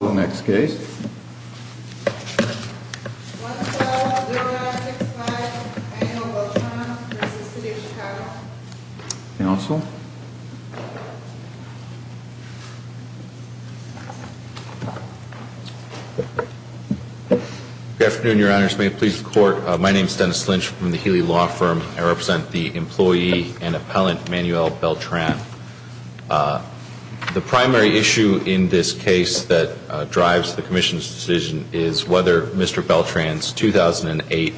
The next case, 1-5-0-9-6-5 Manuel Beltran v. City of Chicago. Council. Good afternoon, your honors. May it please the court, my name is Dennis Lynch from the Healy Law Firm. I represent the employee and appellant Manuel Beltran. The primary issue in this case that drives the commission's decision is whether Mr. Beltran's 2008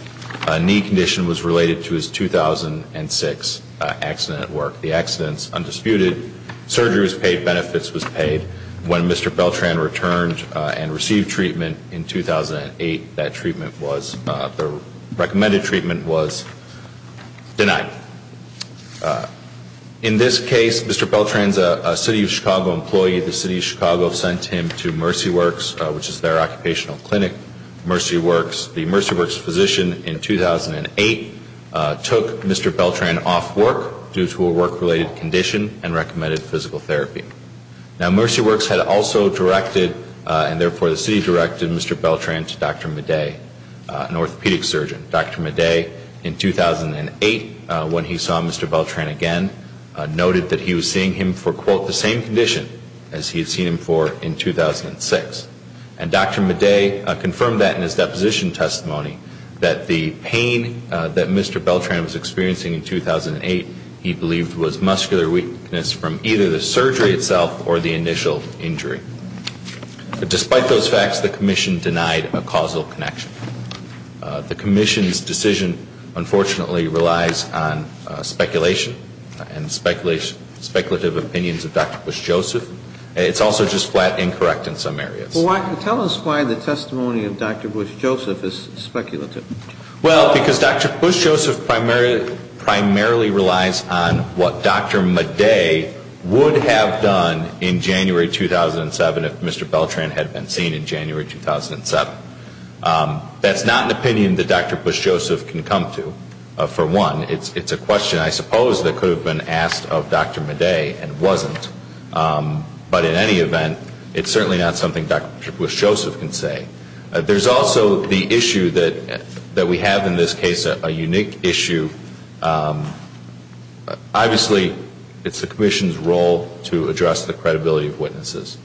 knee condition was related to his 2006 accident at work. The accident is undisputed. Surgery was paid. Benefits was paid. When Mr. Beltran returned and received treatment in 2008, the recommended treatment was denied. In this case, Mr. Beltran is a City of Chicago employee. The City of Chicago sent him to Mercy Works, which is their occupational clinic. Mercy Works, the Mercy Works physician in 2008, took Mr. Beltran off work due to a work-related condition and recommended physical therapy. Now, Mercy Works had also directed, and therefore the City directed, Mr. Beltran to Dr. Madej, an orthopedic surgeon. Dr. Madej, in 2008, when he saw Mr. Beltran again, noted that he was seeing him for, quote, the same condition as he had seen him for in 2006. And Dr. Madej confirmed that in his deposition testimony, that the pain that Mr. Beltran was experiencing in 2008 he believed was muscular weakness from either the surgery itself or the initial injury. Despite those facts, the commission denied a causal connection. The commission's decision, unfortunately, relies on speculation and speculative opinions of Dr. Bush-Joseph. It's also just flat incorrect in some areas. Well, tell us why the testimony of Dr. Bush-Joseph is speculative. Well, because Dr. Bush-Joseph primarily relies on what Dr. Madej would have done in January 2007 if Mr. Beltran had been seen in January 2007. That's not an opinion that Dr. Bush-Joseph can come to, for one. It's a question, I suppose, that could have been asked of Dr. Madej and wasn't. But in any event, it's certainly not something Dr. Bush-Joseph can say. There's also the issue that we have in this case, a unique issue. Obviously, it's the commission's role to address the credibility of witnesses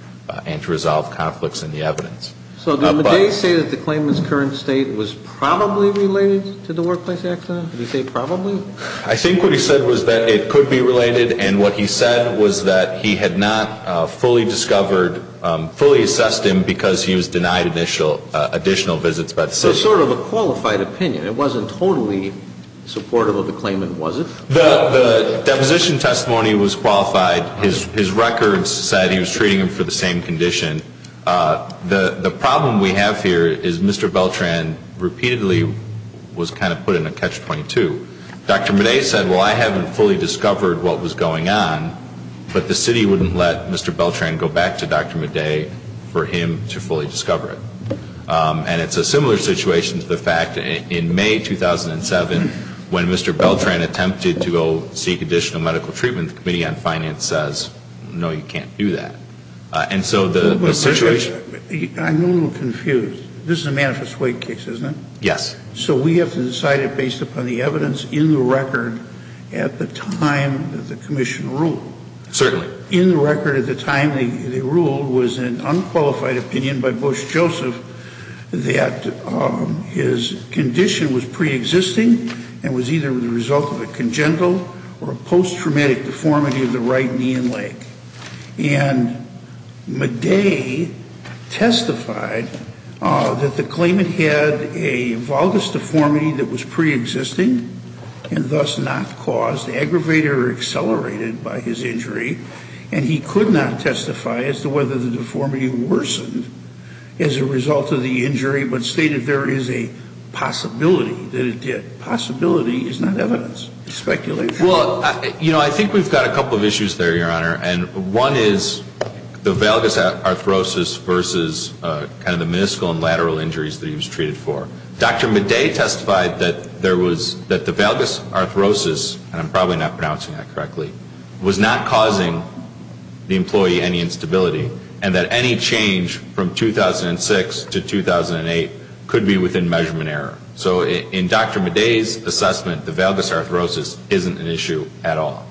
and to resolve conflicts in the evidence. So did Madej say that the claimant's current state was probably related to the workplace accident? Did he say probably? I think what he said was that it could be related. And what he said was that he had not fully discovered, fully assessed him because he was denied additional visits by the system. It's sort of a qualified opinion. It wasn't totally supportive of the claimant, was it? The deposition testimony was qualified. His records said he was treating him for the same condition. The problem we have here is Mr. Beltran repeatedly was kind of put in a catch-22. Dr. Madej said, well, I haven't fully discovered what was going on. But the city wouldn't let Mr. Beltran go back to Dr. Madej for him to fully discover it. And it's a similar situation to the fact that in May 2007, when Mr. Beltran attempted to go seek additional medical treatment, the Committee on Finance says, no, you can't do that. And so the situation – I'm a little confused. This is a manifest wake case, isn't it? Yes. So we have to decide it based upon the evidence in the record at the time that the commission ruled. Certainly. In the record at the time they ruled was an unqualified opinion by Bush Joseph that his condition was preexisting and was either the result of a congenital or a post-traumatic deformity of the right knee and leg. And Madej testified that the claimant had a valgus deformity that was preexisting and thus not caused, aggravated or accelerated by his injury. And he could not testify as to whether the deformity worsened as a result of the injury, but stated there is a possibility that it did. Possibility is not evidence. Speculate. Well, you know, I think we've got a couple of issues there, Your Honor. And one is the valgus arthrosis versus kind of the meniscal and lateral injuries that he was treated for. Dr. Madej testified that there was – that the valgus arthrosis – and I'm probably not pronouncing that correctly – was not causing the employee any instability and that any change from 2006 to 2008 could be within measurement error. So in Dr. Madej's assessment, the valgus arthrosis isn't an issue at all.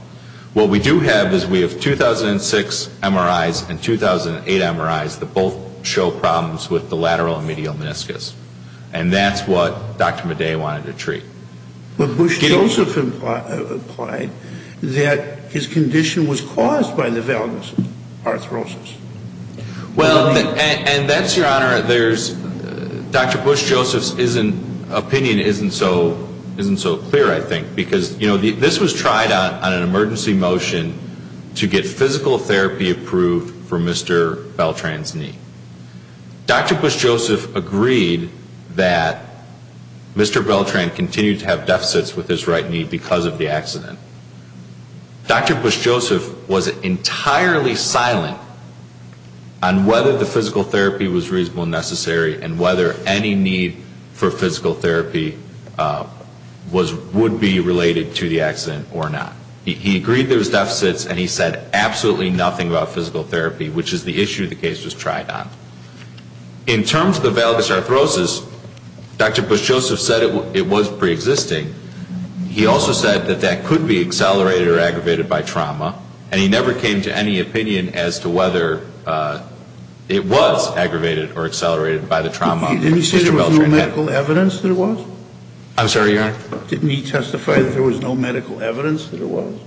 What we do have is we have 2006 MRIs and 2008 MRIs that both show problems with the lateral and medial meniscus. And that's what Dr. Madej wanted to treat. But Bush Joseph implied that his condition was caused by the valgus arthrosis. Well, and that's, Your Honor, there's – Dr. Bush Joseph's opinion isn't so clear, I think, because, you know, this was tried on an emergency motion to get physical therapy approved for Mr. Beltran's knee. Dr. Bush Joseph agreed that Mr. Beltran continued to have deficits with his right knee because of the accident. Dr. Bush Joseph was entirely silent on whether the physical therapy was reasonable and necessary and whether any need for physical therapy was – would be related to the accident or not. He agreed there was deficits and he said absolutely nothing about physical therapy, which is the issue the case was tried on. In terms of the valgus arthrosis, Dr. Bush Joseph said it was preexisting. He also said that that could be accelerated or aggravated by trauma, and he never came to any opinion as to whether it was aggravated or accelerated by the trauma. Didn't he say there was no medical evidence that it was? I'm sorry, Your Honor? Didn't he testify that there was no medical evidence that it was?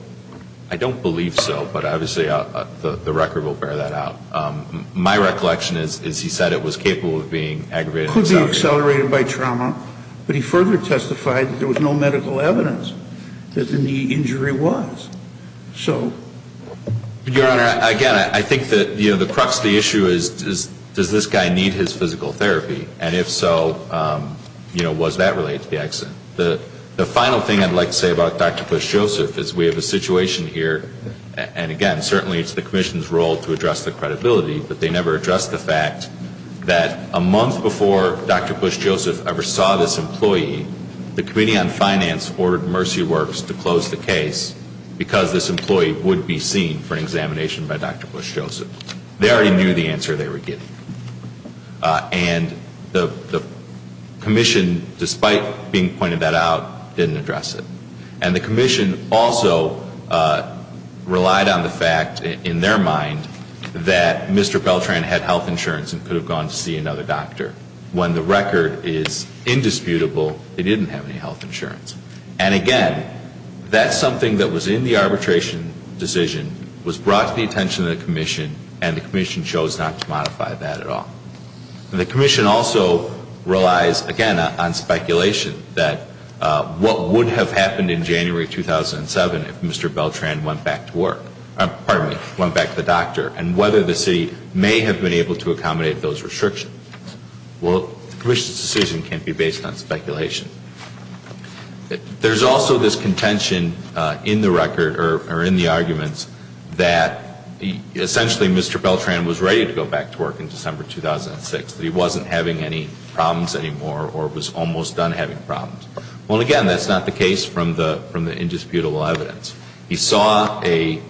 I don't believe so, but obviously the record will bear that out. My recollection is he said it was capable of being aggravated. It could be accelerated by trauma, but he further testified that there was no medical evidence that the knee injury was. So? Your Honor, again, I think that, you know, the crux of the issue is does this guy need his physical therapy? And if so, you know, was that related to the accident? The final thing I'd like to say about Dr. Bush Joseph is we have a situation here, and again, certainly it's the Commission's role to address the credibility, but they never addressed the fact that a month before Dr. Bush Joseph ever saw this employee, the Committee on Finance ordered Mercy Works to close the case because this employee would be seen for an examination by Dr. Bush Joseph. They already knew the answer they were getting. And the Commission, despite being pointed that out, didn't address it. And the Commission also relied on the fact, in their mind, that Mr. Beltran had health insurance and could have gone to see another doctor. When the record is indisputable, he didn't have any health insurance. And again, that's something that was in the arbitration decision, was brought to the attention of the Commission, and the Commission chose not to modify that at all. And the Commission also relies, again, on speculation, that what would have happened in January 2007 if Mr. Beltran went back to work, pardon me, went back to the doctor, and whether the city may have been able to accommodate those restrictions. Well, the Commission's decision can't be based on speculation. There's also this contention in the record, or in the arguments, that essentially Mr. Beltran was ready to go back to work in December 2006, that he wasn't having any problems anymore or was almost done having problems. Well, again, that's not the case from the indisputable evidence. He saw a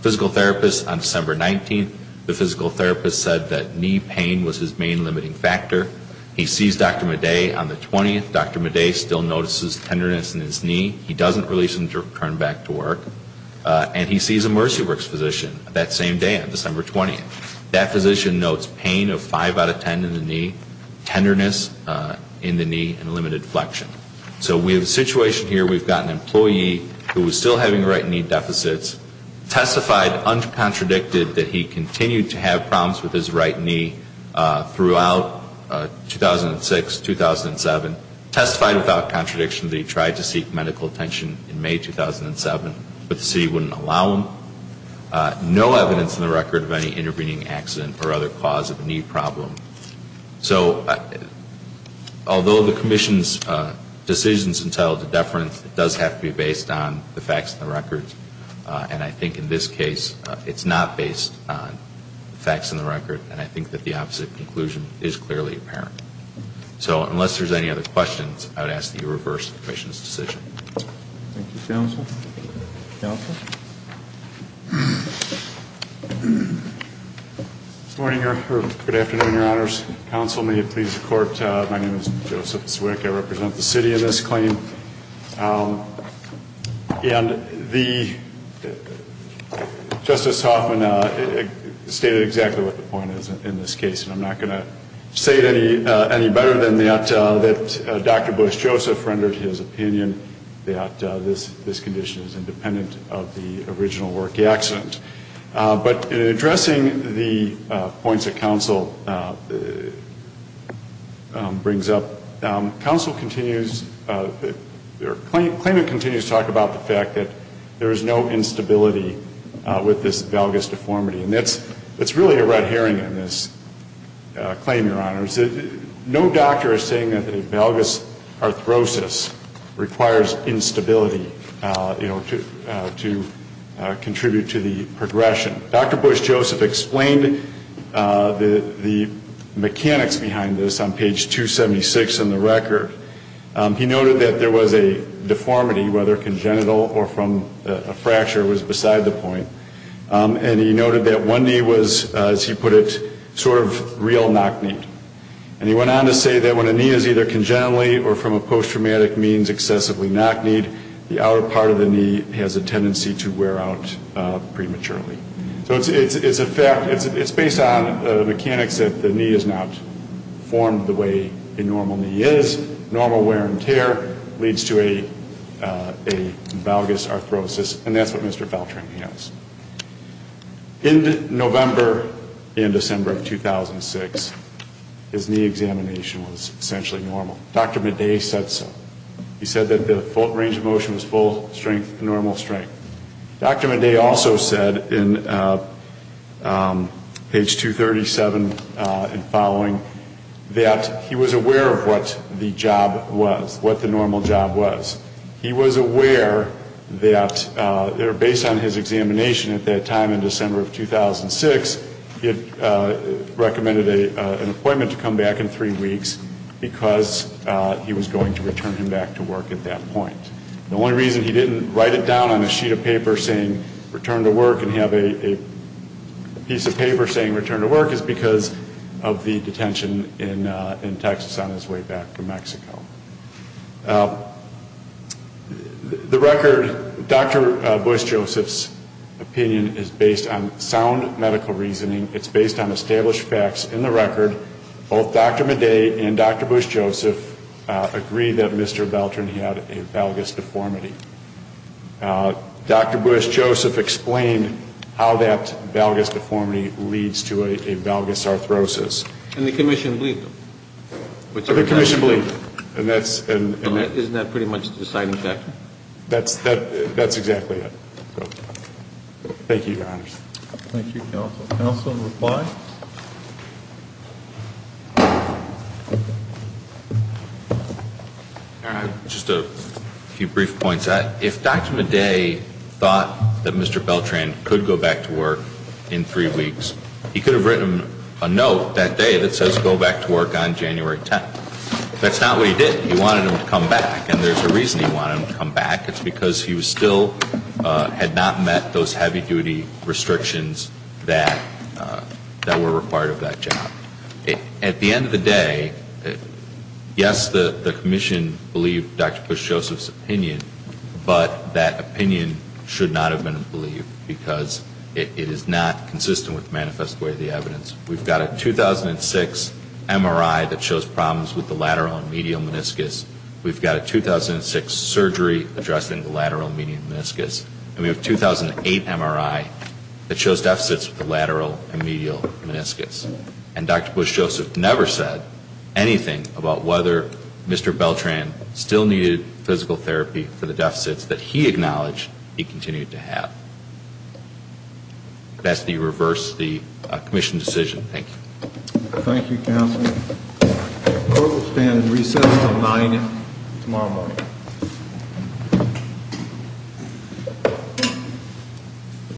physical therapist on December 19th. The physical therapist said that knee pain was his main limiting factor. He sees Dr. Madej on the 20th. Dr. Madej still notices tenderness in his knee. He doesn't release him to return back to work. And he sees a Mercy Works physician that same day on December 20th. That physician notes pain of 5 out of 10 in the knee, tenderness in the knee, and limited flexion. So we have a situation here. We've got an employee who is still having right knee deficits, testified uncontradicted that he continued to have problems with his right knee throughout 2006, 2007, testified without contradiction that he tried to seek medical attention in May 2007, but the city wouldn't allow him. No evidence in the record of any intervening accident or other cause of a knee problem. So although the commission's decisions entail a deference, it does have to be based on the facts in the record. And I think in this case it's not based on the facts in the record, and I think that the opposite conclusion is clearly apparent. So unless there's any other questions, I would ask that you reverse the commission's decision. Thank you, counsel. Counsel? Good afternoon, Your Honors. Counsel, may it please the Court, my name is Joseph Zwick. I represent the city in this claim. And Justice Hoffman stated exactly what the point is in this case, and I'm not going to say it any better than that Dr. Bush Joseph rendered his opinion that this condition is independent of the original work accident. But in addressing the points that counsel brings up, counsel continues or claimant continues to talk about the fact that there is no instability with this valgus deformity. And that's really a red herring in this claim, Your Honors. No doctor is saying that the valgus arthrosis requires instability, you know, to contribute to the progression. Dr. Bush Joseph explained the mechanics behind this on page 276 in the record. He noted that there was a deformity, whether congenital or from a fracture, was beside the point. And he noted that one knee was, as he put it, sort of real knock-kneed. And he went on to say that when a knee is either congenitally or from a post-traumatic means excessively knock-kneed, the outer part of the knee has a tendency to wear out prematurely. So it's a fact, it's based on mechanics that the knee is not formed the way a normal knee is. Normal wear and tear leads to a valgus arthrosis, and that's what Mr. Faltran has. In November and December of 2006, his knee examination was essentially normal. Dr. Madej said so. He said that the range of motion was full strength, normal strength. Dr. Madej also said in page 237 and following that he was aware of what the job was, what the normal job was. He was aware that based on his examination at that time in December of 2006, he had recommended an appointment to come back in three weeks because he was going to return him back to work at that point. The only reason he didn't write it down on a sheet of paper saying return to work and have a piece of paper saying return to work is because of the detention in Texas on his way back from Mexico. The record, Dr. Bush-Joseph's opinion is based on sound medical reasoning. It's based on established facts in the record. Both Dr. Madej and Dr. Bush-Joseph agree that Mr. Faltran had a valgus deformity. Dr. Bush-Joseph explained how that valgus deformity leads to a valgus arthrosis. And the commission believed him. The commission believed him. Isn't that pretty much the deciding factor? That's exactly it. Thank you, Your Honors. Thank you, counsel. Counsel to reply. Just a few brief points. If Dr. Madej thought that Mr. Faltran could go back to work in three weeks, he could have written a note that day that says go back to work on January 10th. That's not what he did. He wanted him to come back. And there's a reason he wanted him to come back. It's because he still had not met those heavy-duty restrictions that were required of that job. At the end of the day, yes, the commission believed Dr. Bush-Joseph's opinion, but that opinion should not have been believed because it is not consistent with the manifest way of the evidence. We've got a 2006 MRI that shows problems with the lateral and medial meniscus. We've got a 2006 surgery addressing the lateral and medial meniscus. And we have a 2008 MRI that shows deficits with the lateral and medial meniscus. And Dr. Bush-Joseph never said anything about whether Mr. Beltran still needed physical therapy for the deficits that he acknowledged he continued to have. That's the reverse of the commission decision. Thank you. Thank you, counsel. The court will stand at recess until 9 tomorrow morning.